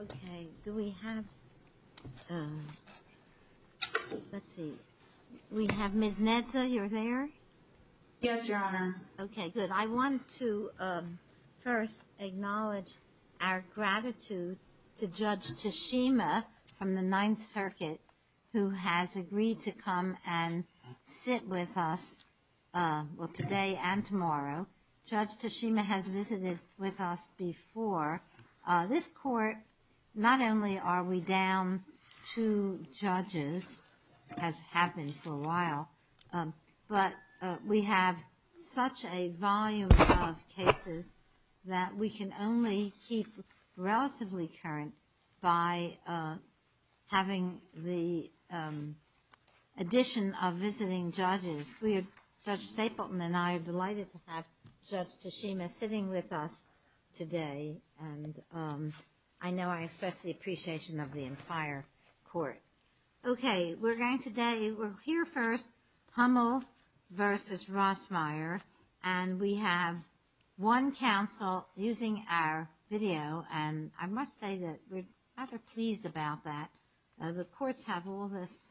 Okay. Do we have, let's see, we have Ms. Nedza, you're there? Yes, Your Honor.Okay, good. I want to first acknowledge our gratitude to Judge Tashima from the Ninth Circuit who has been with us before. This Court, not only are we down two judges, as have been for a while, but we have such a volume of cases that we can only keep relatively current by having the addition of visiting judges. Judge Stapleton and I are delighted to have Judge Tashima with us today, and I know I express the appreciation of the entire Court. Okay, we're going to, we're here first, Hummel v. Rosemeyer, and we have one counsel using our video, and I must say that we're rather pleased about that. The Courts have all this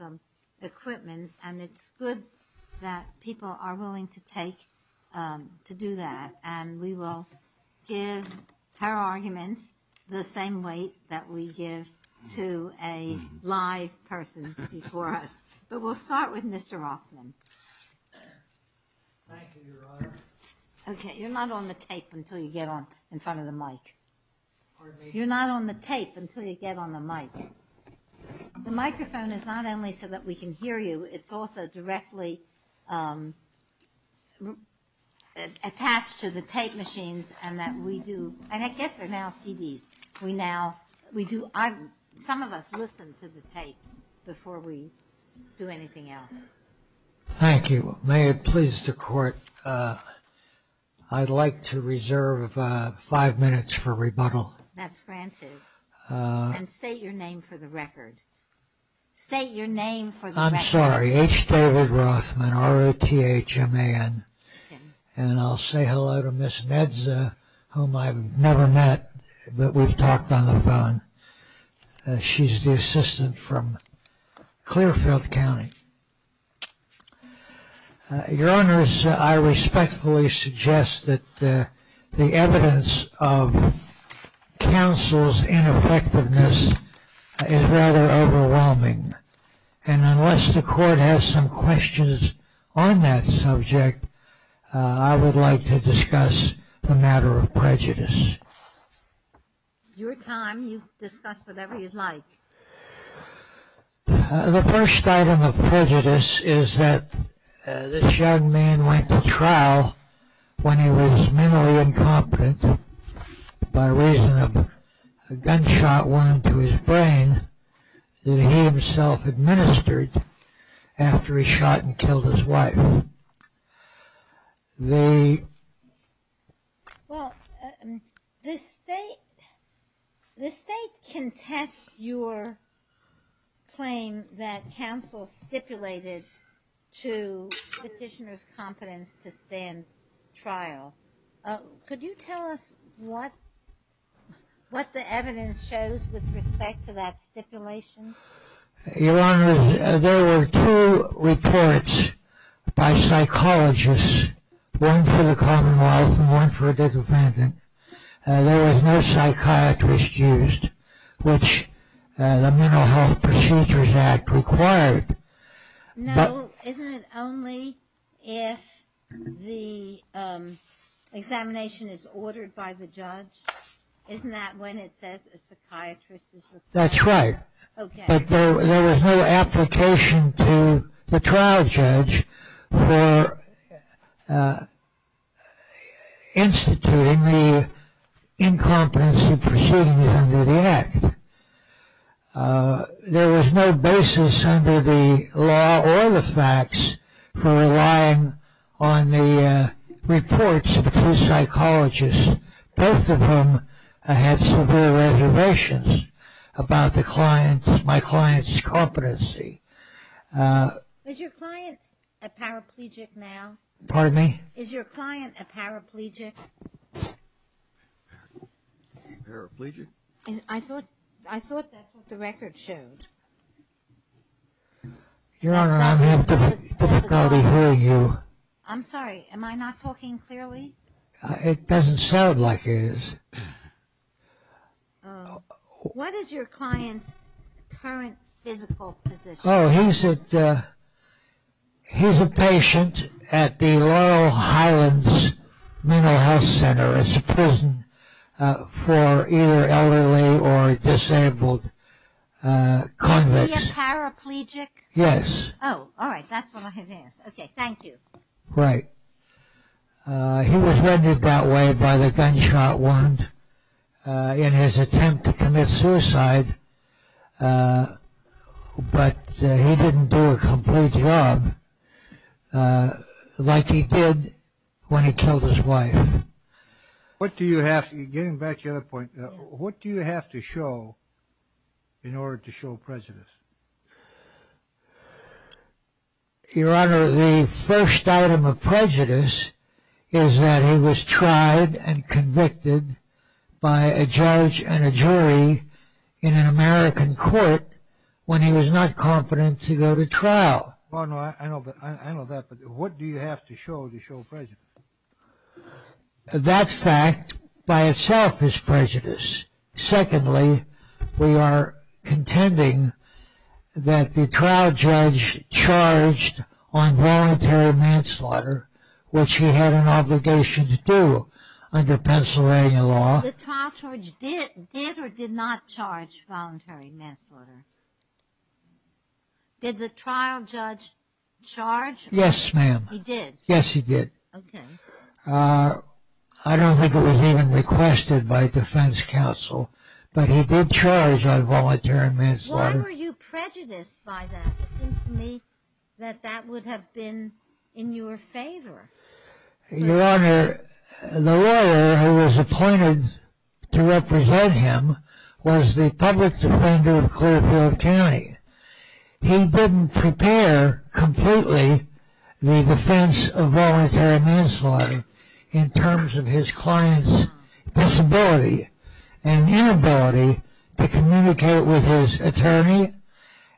equipment, and it's good that people are willing to take, to do that, and we will give her arguments the same way that we give to a live person before us. But we'll start with Mr. Rothman.Thank you, Your Honor.Okay, you're not on the tape until you get on, in front of the mic. You're not on the tape until you get on the mic. The microphone is not only so that we can hear you, it's also directly attached to the tape machines, and that we do, and I guess they're now CDs. We now, we do, some of us listen to the tapes before we do anything else. Thank you. May it please the Court, I'd like to reserve five minutes for rebuttal. That's granted, and state your name for the record. I'm sorry, H. David Rothman, R-O-T-H-M-A-N, and I'll say hello to Ms. Medza, whom I've never met, but we've talked on the phone. She's the counsel's ineffectiveness is rather overwhelming, and unless the Court has some questions on that subject, I would like to discuss the matter of prejudice. Your time, you discuss whatever you'd like. The first item of prejudice is that this young man went to trial when he was mentally incompetent by raising a gunshot wound to his brain that he himself administered after he shot and killed his wife. Well, the state, the state contests your claim that counsel stipulated to the petitioner's competence to stand trial. Could you tell us what, what the evidence shows with respect to that stipulation? Your Honor, there were two reports by psychologists, one for the commonwealth and one for a different thing. There was no psychiatrist used, which the Mental Health Procedures Act required.No, isn't it only if the examination is ordered by the judge? Isn't that when it says a psychiatrist is required? That's right, but there was no application to the trial There was no basis under the law or the facts for relying on the reports of the two psychologists, both of whom had severe reservations about the client, my client's competency. Is your client a paraplegic now? Pardon me? Is your client a paraplegic? Paraplegic? I thought, I thought that's what the record showed. Your Honor, I'm having difficulty hearing you. I'm sorry, am I not talking clearly? It doesn't sound like it is. What is your client's current physical position? Oh, he's a patient at the Laurel Highlands Mental Health Center. It's a prison for either elderly or disabled convicts. Is he a paraplegic? Yes. Oh, alright, that's what I had asked. Okay, thank you. Right. He was rendered that way by the gunshot wound in his attempt to commit suicide, but he didn't do a complete job like he did when he killed his wife. What do you have, getting back to the other point, what do you have to show in order to show prejudice? Your Honor, the first item of prejudice is that he was tried and convicted by a judge and a jury in an American court when he was not confident to go to trial. I know that, but what do you have to show to show prejudice? That fact by itself is prejudice. Secondly, we are contending that the trial judge charged on voluntary manslaughter, which he had an obligation to do under Pennsylvania law. The trial judge did or did not charge voluntary manslaughter? Did the trial judge charge? Yes, ma'am. He did? Yes, he did. Okay. I don't think it was even requested by defense counsel, but he did charge on voluntary manslaughter. Why were you prejudiced by that? It seems to me that that would have been in your favor. Your Honor, the lawyer who was appointed to represent him was the public defender of Clearfield County. He didn't prepare completely the defense of voluntary manslaughter in terms of his client's disability and inability to communicate with his attorney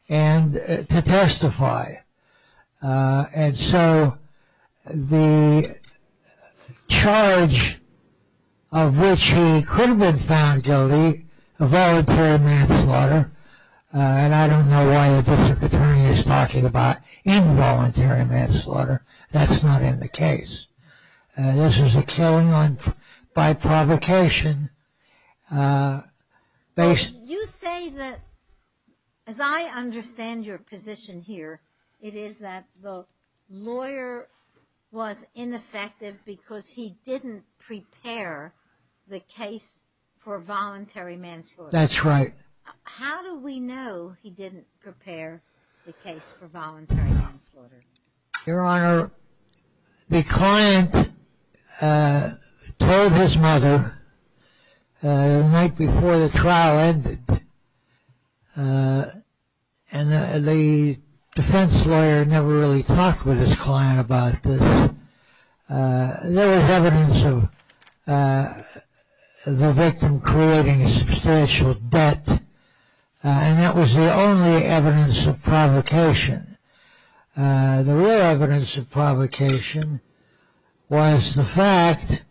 and to testify. And so the charge of which he could have been found guilty of voluntary manslaughter, and I don't know why the district attorney is talking about involuntary manslaughter. That's not in the case. This is a killing by provocation. You say that, as I understand your position here, it is that the lawyer was ineffective because he didn't prepare the case for voluntary manslaughter. That's right. How do we know he didn't prepare the case for voluntary manslaughter? Your Honor, the client told his mother the night before the trial ended, and the defense lawyer never really talked with his client about this. There was evidence of the victim creating a substantial debt, and that was the only evidence of provocation. The real evidence of provocation was the fact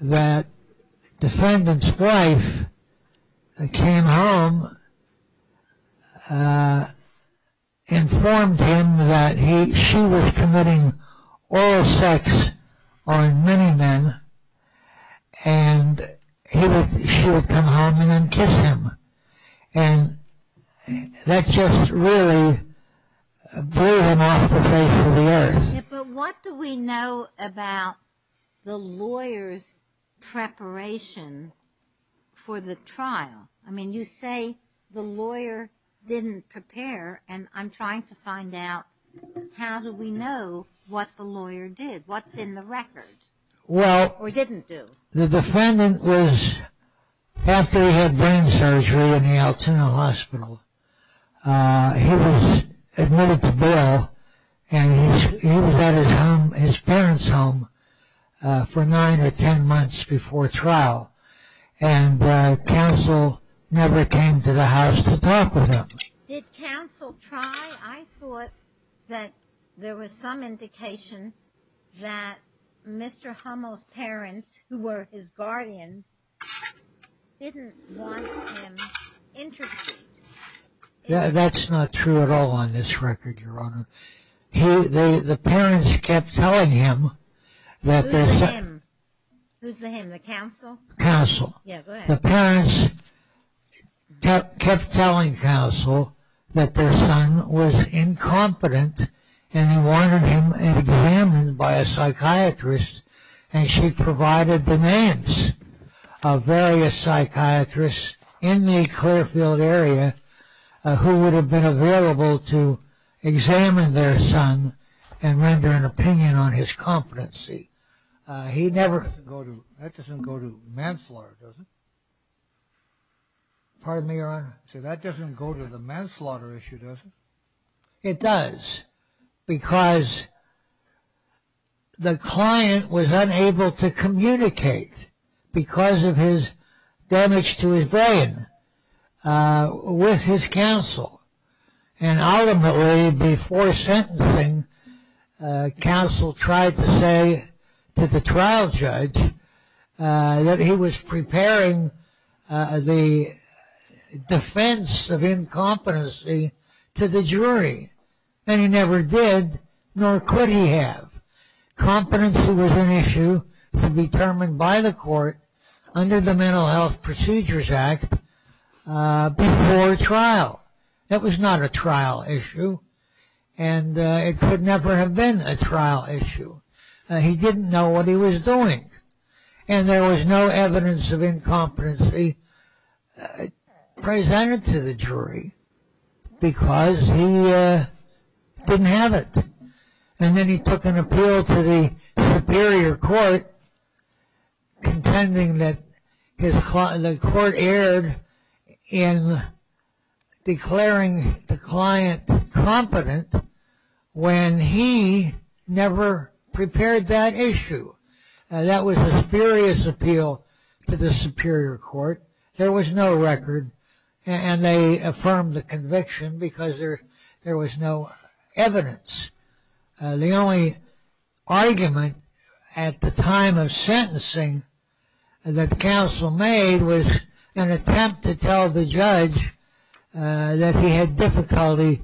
that the defendant's wife came home, informed him that she was committing oral sex on many men, and she would come home and then kiss him. And that just really blew him off the face of the earth. But what do we know about the lawyer's preparation for the trial? I mean, you say the lawyer didn't prepare, and I'm trying to find out how do we know what the lawyer did? What's in the record? Well... Or didn't do? The defendant was... After he had brain surgery in the Altoona Hospital, he was admitted to bail, and he was at his parents' home for nine or ten months before trial, and counsel never came to the house to talk with him. Did counsel try? I thought that there was some indication that Mr. Hummel's parents, who were his guardian, didn't want him interviewed. That's not true at all on this record, Your Honor. The parents kept telling him that their son... Who's the him? Who's the him? The counsel? Counsel. Yeah, go ahead. The parents kept telling counsel that their son was incompetent, and they wanted him examined by a psychiatrist, and she provided the names of various psychiatrists in the Clearfield area who would have been available to examine their son and render an opinion on his competency. He never... That doesn't go to manslaughter, does it? Pardon me, Your Honor? That doesn't go to the manslaughter issue, does it? It does, because the client was unable to communicate because of his damage to his brain with his counsel, and ultimately, before sentencing, counsel tried to say to the trial judge that he was preparing the defense of incompetency to the jury, and he never did, nor could he have. under the Mental Health Procedures Act before trial. That was not a trial issue, and it could never have been a trial issue. He didn't know what he was doing, and there was no evidence of incompetency presented to the jury because he didn't have it, and then he took an appeal to the superior court contending that the court erred in declaring the client competent when he never prepared that issue. That was a spurious appeal to the superior court. There was no record, and they affirmed the conviction because there was no evidence. The only argument at the time of sentencing that counsel made was an attempt to tell the judge that he had difficulty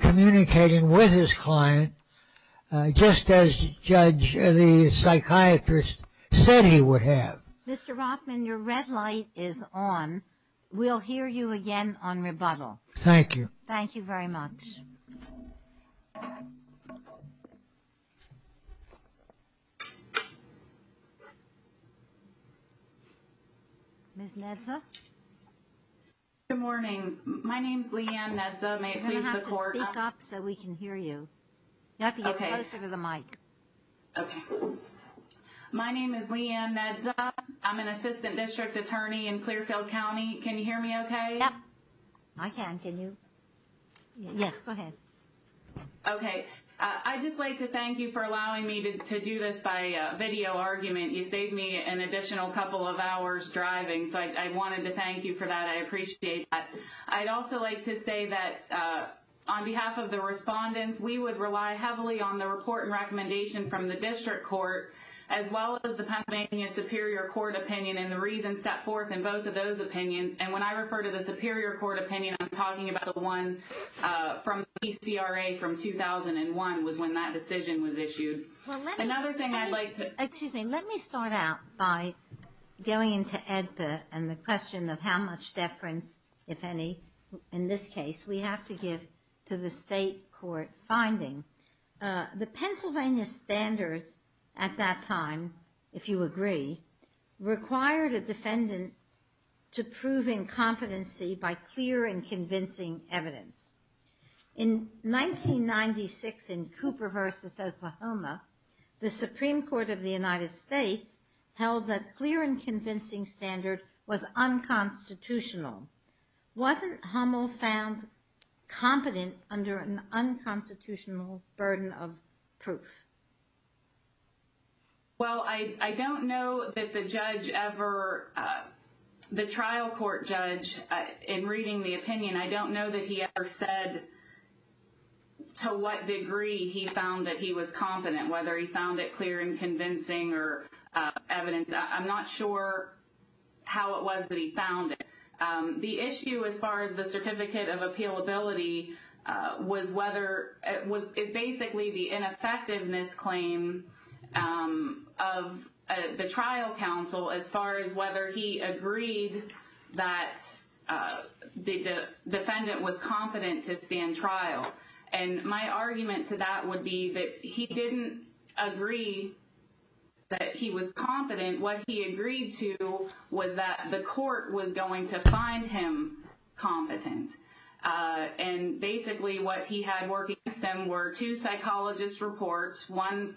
communicating with his client just as the psychiatrist said he would have. Mr. Rothman, your red light is on. We'll hear you again on rebuttal. Thank you. Thank you very much. Ms. Nedza? Good morning. My name is Leanne Nedza. You're going to have to speak up so we can hear you. You have to get closer to the mic. Okay. My name is Leanne Nedza. I'm an assistant district attorney in Clearfield County. Can you hear me okay? Yep. I can. Can you? Yes, go ahead. Okay. I'd just like to thank you for allowing me to do this by video argument. You saved me an additional couple of hours driving, so I wanted to thank you for that. I appreciate that. I'd also like to say that on behalf of the respondents, we would rely heavily on the report and recommendation from the district court as well as the Pennsylvania Superior Court opinion and the reasons set forth in both of those opinions. And when I refer to the Superior Court opinion, I'm talking about the one from PCRA from 2001 was when that decision was issued. Another thing I'd like to – Excuse me. Let me start out by going into AEDPA and the question of how much deference, if any, in this case we have to give to the state court finding. The Pennsylvania standards at that time, if you agree, required a defendant to prove incompetency by clear and convincing evidence. In 1996 in Cooper v. Oklahoma, the Supreme Court of the United States held that clear and convincing standard was unconstitutional. Wasn't Hummel found competent under an unconstitutional burden of proof? Well, I don't know that the judge ever – the trial court judge in reading the opinion, I don't know that he ever said to what degree he found that he was competent, whether he found it clear and convincing or evidence. I'm not sure how it was that he found it. The issue as far as the certificate of appealability was whether – is basically the ineffectiveness claim of the trial counsel as far as whether he agreed that the defendant was competent to stand trial. And my argument to that would be that he didn't agree that he was competent. What he agreed to was that the court was going to find him competent. And basically what he had working against him were two psychologist reports, one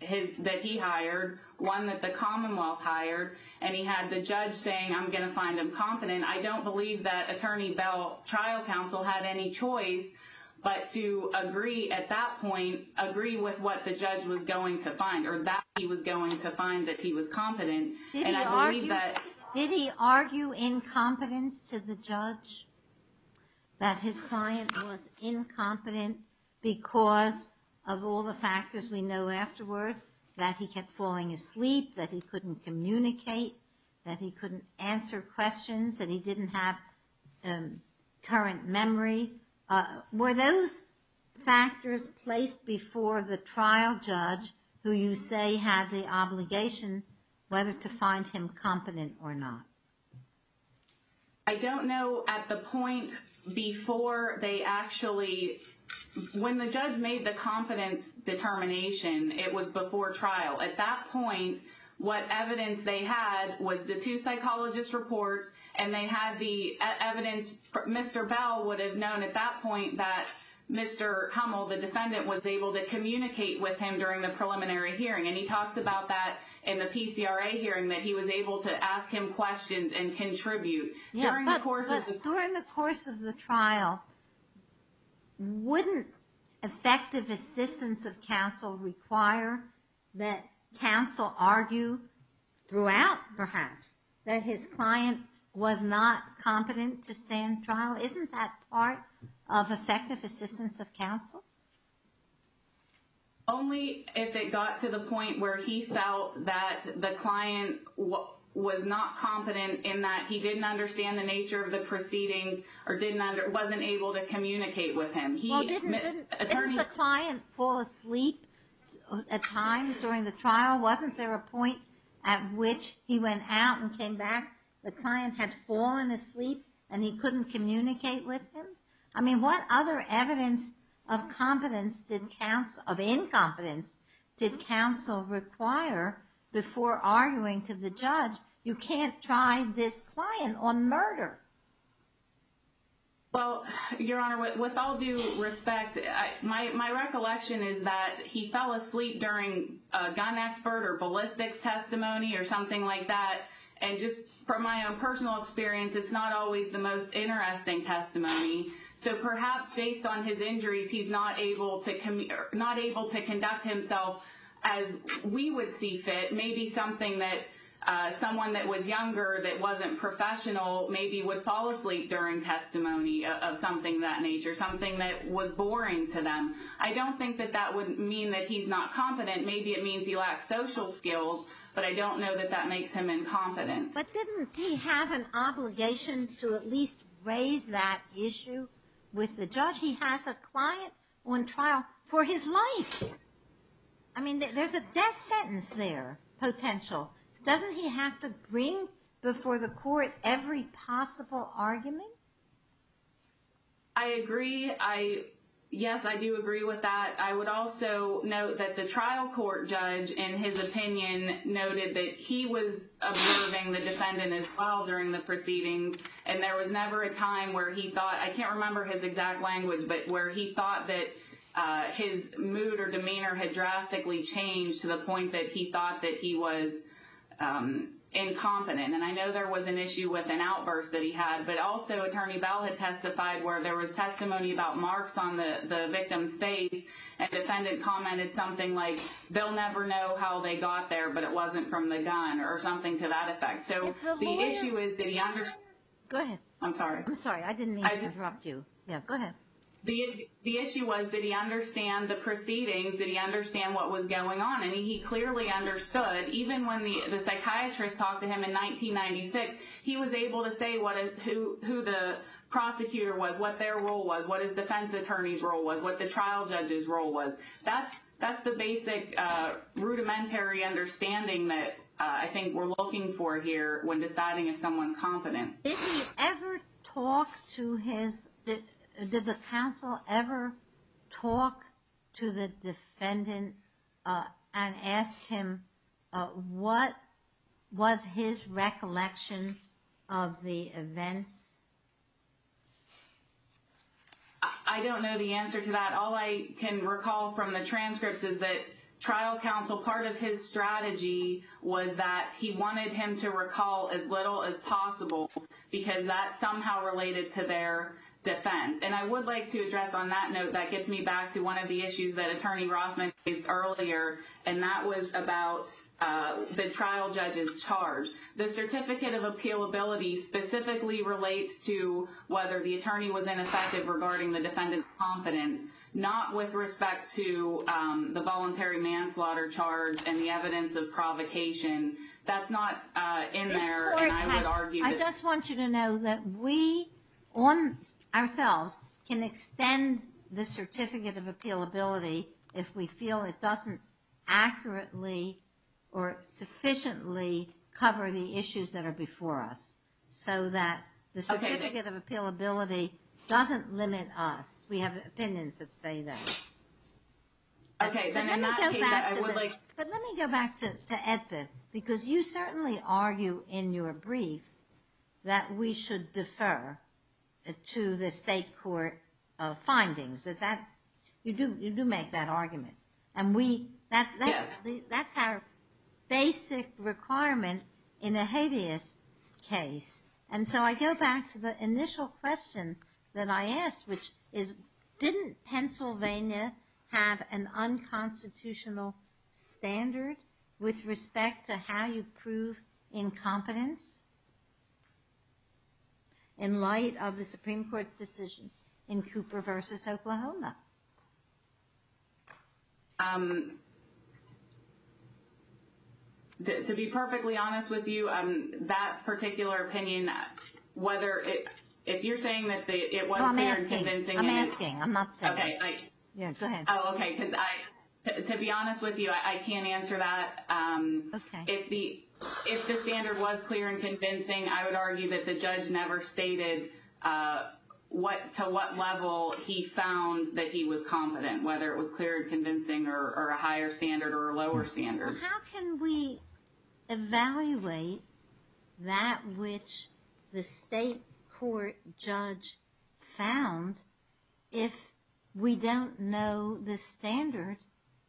that he hired, one that the Commonwealth hired, and he had the judge saying, I'm going to find him competent. I don't believe that Attorney Bell trial counsel had any choice, but to agree at that point, agree with what the judge was going to find or that he was going to find that he was competent. Did he argue incompetence to the judge, that his client was incompetent because of all the factors we know afterwards, that he kept falling asleep, that he couldn't communicate, that he couldn't answer questions, that he didn't have current memory? Were those factors placed before the trial judge who you say had the obligation, whether to find him competent or not? I don't know at the point before they actually – when the judge made the competence determination, it was before trial. At that point, what evidence they had was the two psychologist reports and they had the evidence. Mr. Bell would have known at that point that Mr. Hummel, the defendant, was able to communicate with him during the preliminary hearing. And he talks about that in the PCRA hearing, that he was able to ask him questions and contribute during the course of the trial. During the course of the trial, wouldn't effective assistance of counsel require that counsel argue throughout, perhaps, that his client was not competent to stand trial? Isn't that part of effective assistance of counsel? Only if it got to the point where he felt that the client was not competent in that he didn't understand the nature of the proceedings or wasn't able to communicate with him. Well, didn't the client fall asleep at times during the trial? Wasn't there a point at which he went out and came back, the client had fallen asleep and he couldn't communicate with him? I mean, what other evidence of incompetence did counsel require before arguing to the judge, you can't try this client on murder? Well, Your Honor, with all due respect, my recollection is that he fell asleep during a gun expert or ballistics testimony or something like that. And just from my own personal experience, it's not always the most interesting testimony. So perhaps based on his injuries, he's not able to conduct himself as we would see fit, maybe someone that was younger that wasn't professional maybe would fall asleep during testimony of something of that nature, something that was boring to them. I don't think that that would mean that he's not competent. Maybe it means he lacks social skills, but I don't know that that makes him incompetent. But didn't he have an obligation to at least raise that issue with the judge? He has a client on trial for his life. I mean, there's a death sentence there, potential. Doesn't he have to bring before the court every possible argument? I agree. Yes, I do agree with that. I would also note that the trial court judge, in his opinion, noted that he was observing the defendant as well during the proceedings. And there was never a time where he thought, I can't remember his exact language, but where he thought that his mood or demeanor had drastically changed to the point that he thought that he was incompetent. And I know there was an issue with an outburst that he had, but also Attorney Bell had testified where there was testimony about marks on the victim's face, and the defendant commented something like, they'll never know how they got there, but it wasn't from the gun or something to that effect. Go ahead. I'm sorry. I didn't mean to interrupt you. Yeah, go ahead. The issue was, did he understand the proceedings? Did he understand what was going on? And he clearly understood. Even when the psychiatrist talked to him in 1996, he was able to say who the prosecutor was, what their role was, what his defense attorney's role was, what the trial judge's role was. That's the basic rudimentary understanding that I think we're looking for here when deciding if someone's competent. Did he ever talk to his, did the counsel ever talk to the defendant and ask him, what was his recollection of the events? I don't know the answer to that. All I can recall from the transcripts is that trial counsel, part of his strategy was that he wanted him to recall as little as possible because that somehow related to their defense. And I would like to address on that note, that gets me back to one of the issues that Attorney Rothman raised earlier, and that was about the trial judge's charge. The certificate of appealability specifically relates to whether the attorney was ineffective regarding the defendant's competence, not with respect to the voluntary manslaughter charge and the evidence of provocation. That's not in there, and I would argue that... I just want you to know that we, ourselves, can extend the certificate of appealability if we feel it doesn't accurately or sufficiently cover the issues that are before us, so that the certificate of appealability doesn't limit us. We have opinions that say that. But let me go back to Edford, because you certainly argue in your brief that we should defer to the state court findings. You do make that argument. That's our basic requirement in a habeas case. And so I go back to the initial question that I asked, which is didn't Pennsylvania have an unconstitutional standard with respect to how you prove incompetence in light of the Supreme Court's decision in Cooper v. Oklahoma? To be perfectly honest with you, that particular opinion, whether it... If you're saying that it was clear and convincing... I'm asking. I'm asking. I'm not saying. Okay. Yeah, go ahead. Oh, okay. To be honest with you, I can't answer that. Okay. If the standard was clear and convincing, I would argue that the judge never stated to what level he found that he was competent, whether it was clear and convincing or a higher standard or a lower standard. How can we evaluate that which the state court judge found if we don't know the standard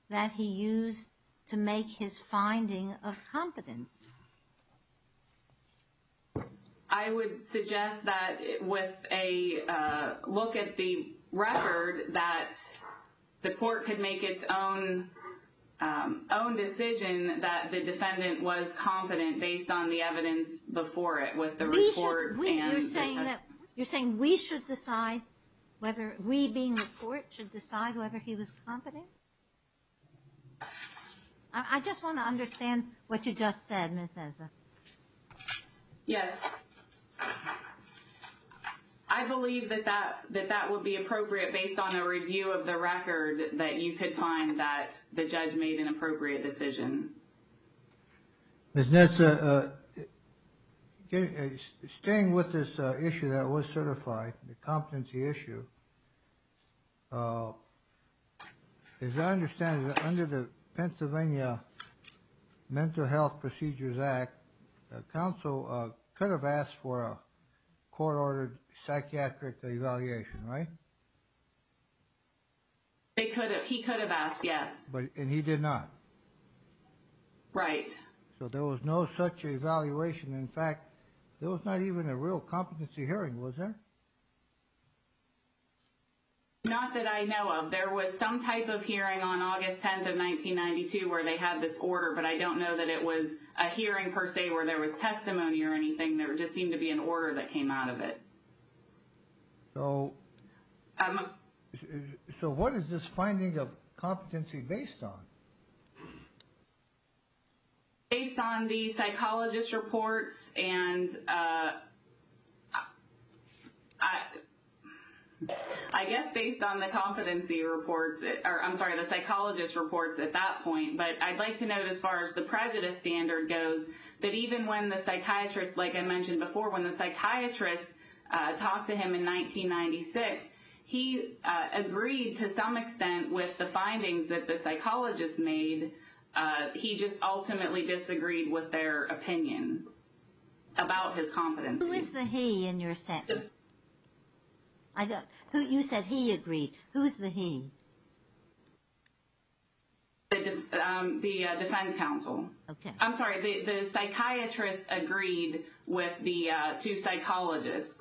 that he used to make his finding of competence? I would suggest that with a look at the record, that the court could make its own decision that the defendant was competent based on the evidence before it with the report. You're saying we should decide whether we, being the court, should decide whether he was competent? I just want to understand what you just said, Ms. Nessa. Yes. I believe that that would be appropriate based on a review of the record that you could find that the judge made an appropriate decision. Ms. Nessa, staying with this issue that was certified, the competency issue, as I understand it, under the Pennsylvania Mental Health Procedures Act, the counsel could have asked for a court-ordered psychiatric evaluation, right? He could have asked, yes. And he did not? Right. So there was no such evaluation. In fact, there was not even a real competency hearing, was there? Not that I know of. There was some type of hearing on August 10th of 1992 where they had this order, but I don't know that it was a hearing per se where there was testimony or anything. There just seemed to be an order that came out of it. So what is this finding of competency based on? Based on the psychologist reports and I guess based on the competency reports, or I'm sorry, the psychologist reports at that point, but I'd like to note as far as the prejudice standard goes, that even when the psychiatrist, like I mentioned before, when the psychiatrist talked to him in 1996, he agreed to some extent with the findings that the psychologist made. He just ultimately disagreed with their opinion about his competency. Who is the he in your sense? You said he agreed. Who is the he? The defense counsel. Okay. I'm sorry. The psychiatrist agreed with the two psychologists.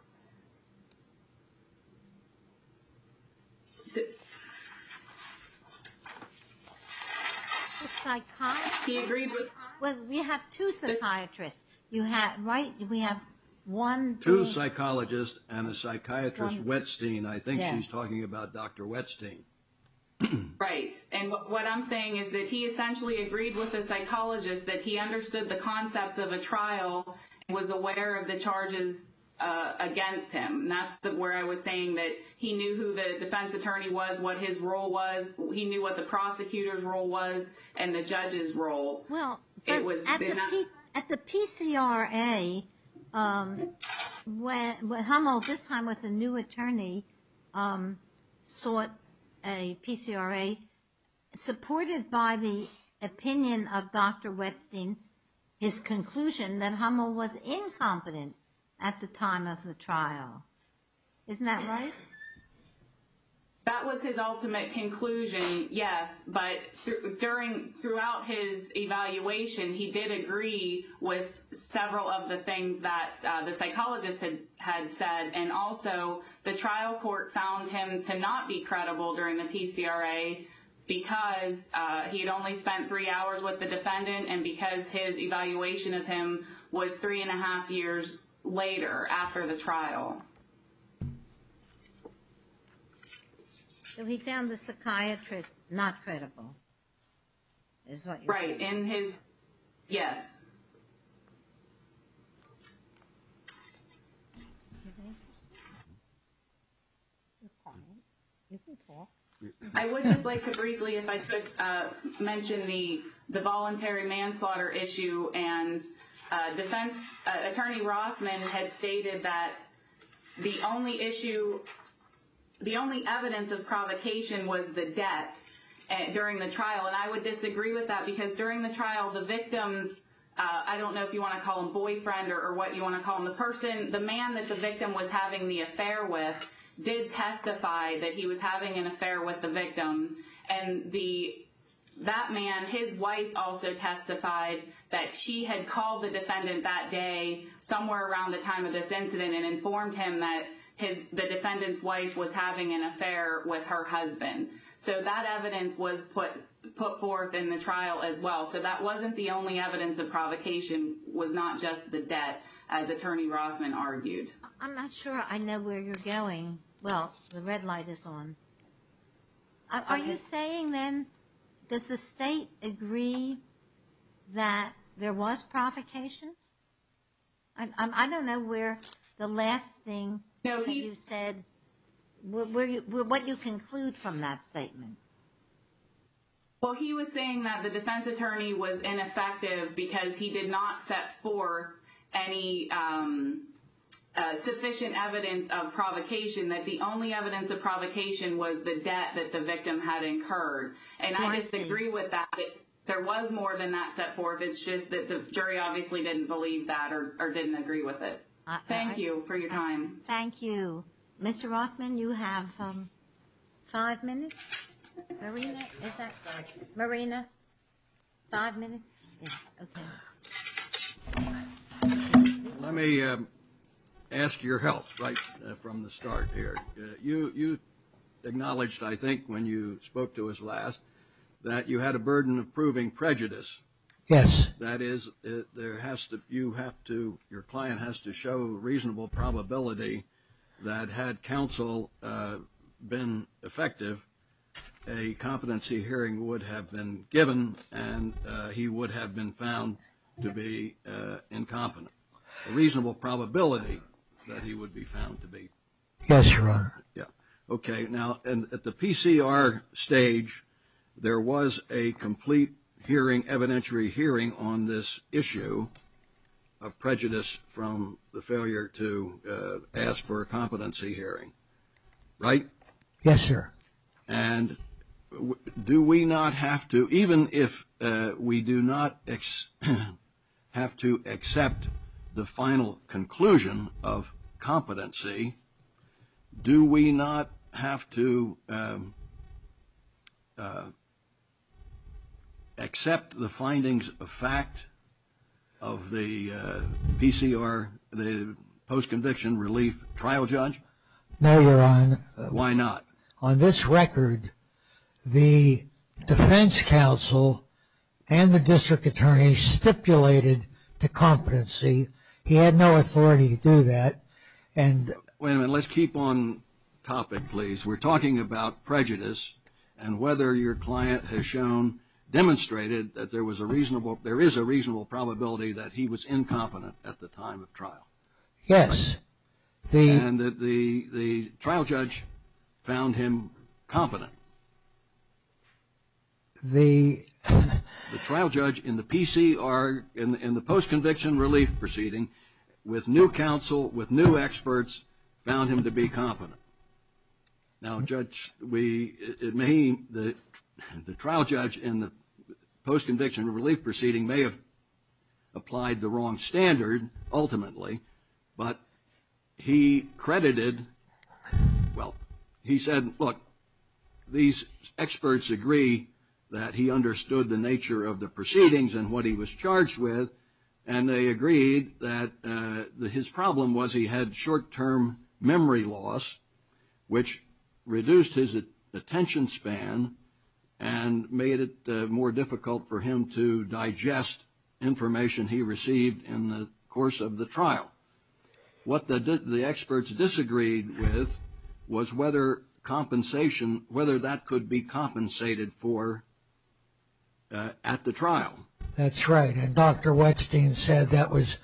We have two psychiatrists, right? We have one. Two psychologists and a psychiatrist, Wettstein. I think she's talking about Dr. Wettstein. Right. And what I'm saying is that he essentially agreed with the psychologist that he understood the concepts of a trial and was aware of the charges against him. That's where I was saying that he knew who the defense attorney was, what his role was. He knew what the prosecutor's role was and the judge's role. At the PCRA, when Hummel, this time with a new attorney, sought a PCRA supported by the opinion of Dr. Wettstein, his conclusion that Hummel was incompetent at the time of the trial. Isn't that right? That was his ultimate conclusion, yes. But throughout his evaluation, he did agree with several of the things that the psychologist had said. And also the trial court found him to not be credible during the PCRA because he had only spent three hours with the defendant and because his evaluation of him was three and a half years later after the trial. So he found the psychiatrist not credible is what you're saying? Right. And his, yes. I would just like to briefly, if I could, mention the voluntary manslaughter issue and defense attorney Rothman had stated that the only issue, the only evidence of provocation was the debt during the trial. And I would disagree with that because during the trial, the victims, I don't know if you want to call them boyfriend or what you want to call them, the person, the man that the victim was having the affair with did testify that he was having an affair with the victim. And that man, his wife also testified that she had called the defendant that day somewhere around the time of this incident and informed him that the defendant's wife was having an affair with her husband. So that evidence was put forth in the trial as well. So that wasn't the only evidence of provocation was not just the debt, as attorney Rothman argued. I'm not sure I know where you're going. Well, the red light is on. Are you saying then, does the state agree that there was provocation? I don't know where the last thing you said, what you conclude from that statement. Well, he was saying that the defense attorney was ineffective because he did not set forth any sufficient evidence of provocation, that the only evidence of provocation was the debt that the victim had incurred. And I disagree with that. There was more than that set forth. It's just that the jury obviously didn't believe that or didn't agree with it. Thank you for your time. Thank you. Mr. Rothman, you have five minutes? Marina? Marina? Five minutes? Yes. Okay. Let me ask your help right from the start here. You acknowledged, I think, when you spoke to us last, that you had a burden of proving prejudice. Yes. That is, your client has to show reasonable probability that had counsel been effective, a competency hearing would have been given and he would have been found to be incompetent. A reasonable probability that he would be found to be. Yes, Your Honor. Okay. Now, at the PCR stage, there was a complete hearing, evidentiary hearing on this issue of prejudice from the failure to ask for a competency hearing, right? Yes, sir. And do we not have to, even if we do not have to accept the final conclusion of competency, do we not have to accept the findings of fact of the PCR, the post-conviction relief trial judge? No, Your Honor. Why not? On this record, the defense counsel and the district attorney stipulated the competency. He had no authority to do that. Wait a minute. Let's keep on topic, please. We're talking about prejudice and whether your client has demonstrated that there is a reasonable probability that he was incompetent at the time of trial. Yes. And that the trial judge found him competent. The trial judge in the PCR, in the post-conviction relief proceeding, with new counsel, with new experts, found him to be competent. Now, Judge, the trial judge in the post-conviction relief proceeding may have applied the wrong standard, ultimately, but he credited, well, he said, look, these experts agree that he understood the nature of the proceedings and what he was charged with, and they agreed that his problem was he had short-term memory loss, which reduced his attention span and made it more difficult for him to digest information he received in the course of the trial. What the experts disagreed with was whether compensation, whether that could be compensated for at the trial. That's right. And Dr. Wetstein said that was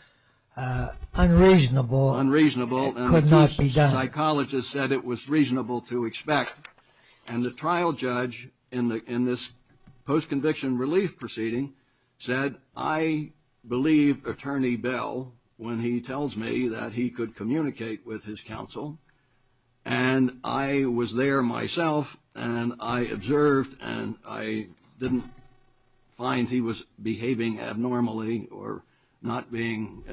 unreasonable. Unreasonable. It could not be done. And the psychologist said it was reasonable to expect. And the trial judge in this post-conviction relief proceeding said, I believe Attorney Bell, when he tells me that he could communicate with his counsel, and I was there myself and I observed and I didn't find he was behaving abnormally or not being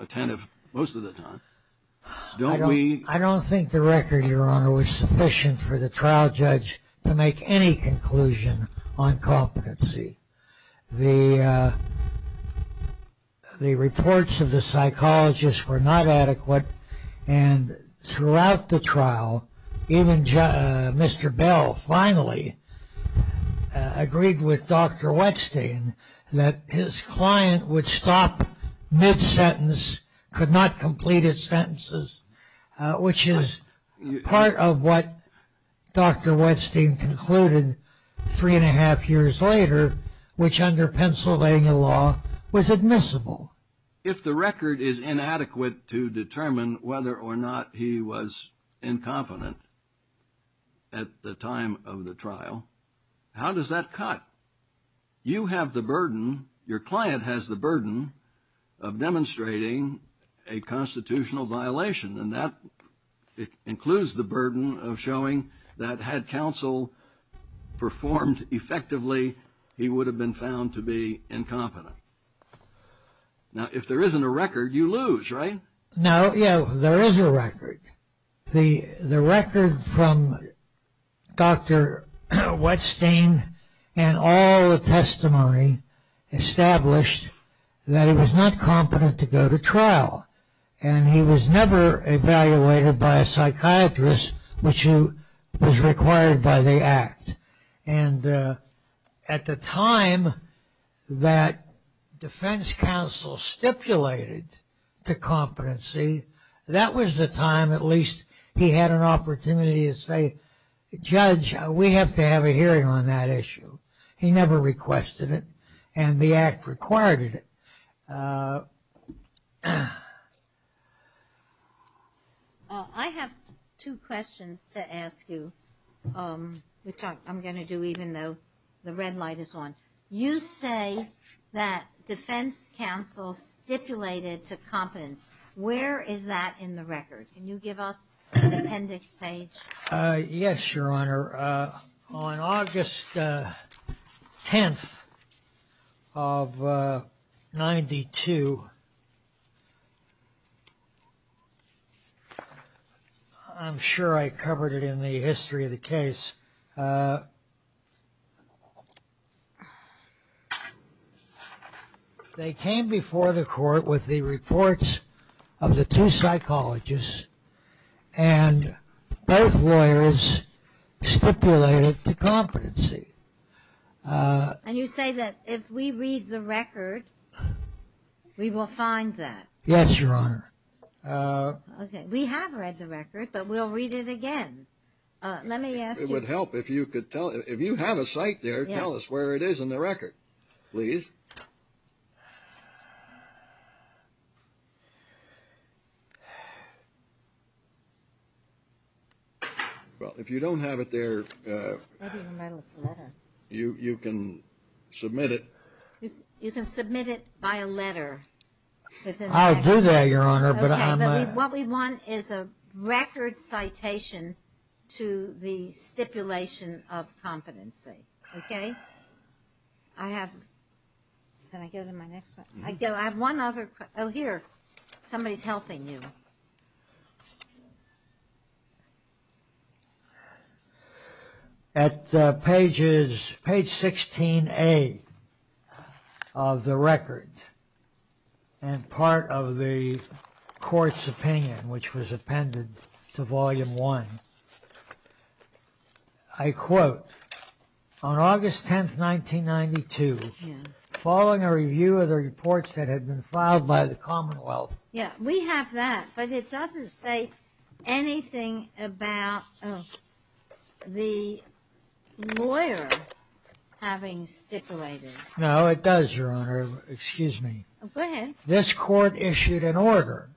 attentive most of the time. I don't think the record, Your Honor, was sufficient for the trial judge to make any conclusion on competency. The reports of the psychologist were not adequate, and throughout the trial even Mr. Bell finally agreed with Dr. Wetstein that his client would stop mid-sentence, could not complete his sentences, which is part of what Dr. Wetstein concluded three and a half years later, which under Pennsylvania law was admissible. If the record is inadequate to determine whether or not he was incompetent at the time of the trial, how does that cut? You have the burden, your client has the burden, of demonstrating a constitutional violation, and that includes the burden of showing that had counsel performed effectively, he would have been found to be incompetent. Now, if there isn't a record, you lose, right? No, there is a record. Dr. Wetstein established that he was not competent to go to trial, and he was never evaluated by a psychiatrist, which was required by the Act. And at the time that defense counsel stipulated to competency, that was the time at least he had an opportunity to say, Judge, we have to have a hearing on that issue. He never requested it, and the Act required it. I have two questions to ask you, which I'm going to do even though the red light is on. You say that defense counsel stipulated to competence. Where is that in the record? Can you give us an appendix page? Yes, your honor. On August 10th of 92, I'm sure I covered it in the history of the case. They came before the court with the reports of the two psychologists, and both lawyers stipulated to competency. And you say that if we read the record, we will find that? Yes, your honor. Okay. We have read the record, but we'll read it again. Let me ask you. It would help if you could tell. If you have a cite there, tell us where it is in the record, please. Well, if you don't have it there, you can submit it. You can submit it by a letter. I'll do that, your honor. Okay. What we want is a record citation to the stipulation of competency. Okay? I have one other question. Oh, here. Somebody is helping you. Okay. At page 16A of the record, and part of the court's opinion, which was appended to volume one, I quote, on August 10th, 1992, following a review of the reports that had been filed by the commonwealth. Yeah, we have that, but it doesn't say anything about the lawyer having stipulated. No, it does, your honor. Excuse me. Go ahead. This court issued an order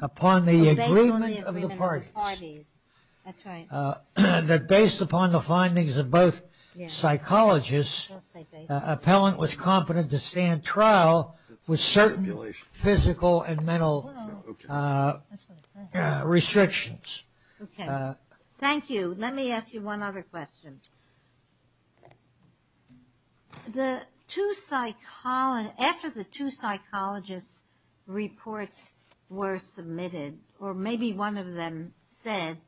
upon the agreement of the parties. That's right. That based upon the findings of both psychologists, the appellant was competent to stand trial with certain physical and mental restrictions. Okay. Thank you. Let me ask you one other question. After the two psychologists' reports were submitted, or maybe one of them said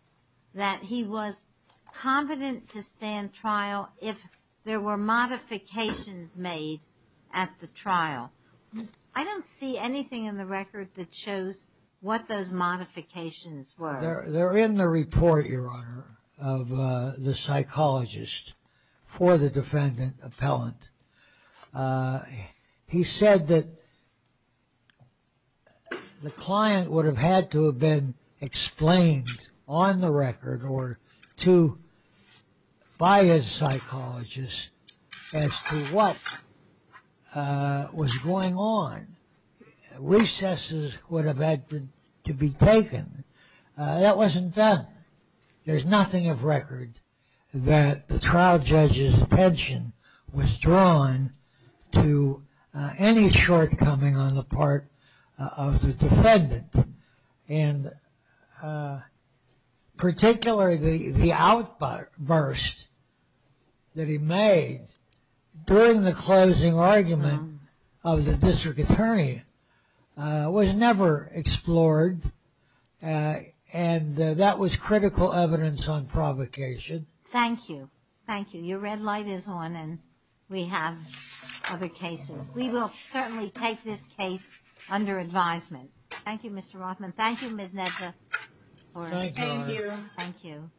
that he was competent to stand trial if there were modifications made at the trial. I don't see anything in the record that shows what those modifications were. They're in the report, your honor, of the psychologist for the defendant appellant. He said that the client would have had to have been explained on the record or by his psychologist as to what was going on. Recesses would have had to be taken. That wasn't done. There's nothing of record that the trial judge's pension was drawn to any shortcoming on the part of the defendant. And particularly the outburst that he made during the closing argument of the district attorney was never explored. And that was critical evidence on provocation. Thank you. Thank you. Your red light is on and we have other cases. We will certainly take this case under advisement. Thank you, Mr. Rothman. Thank you, Ms. Nedra. Thank you.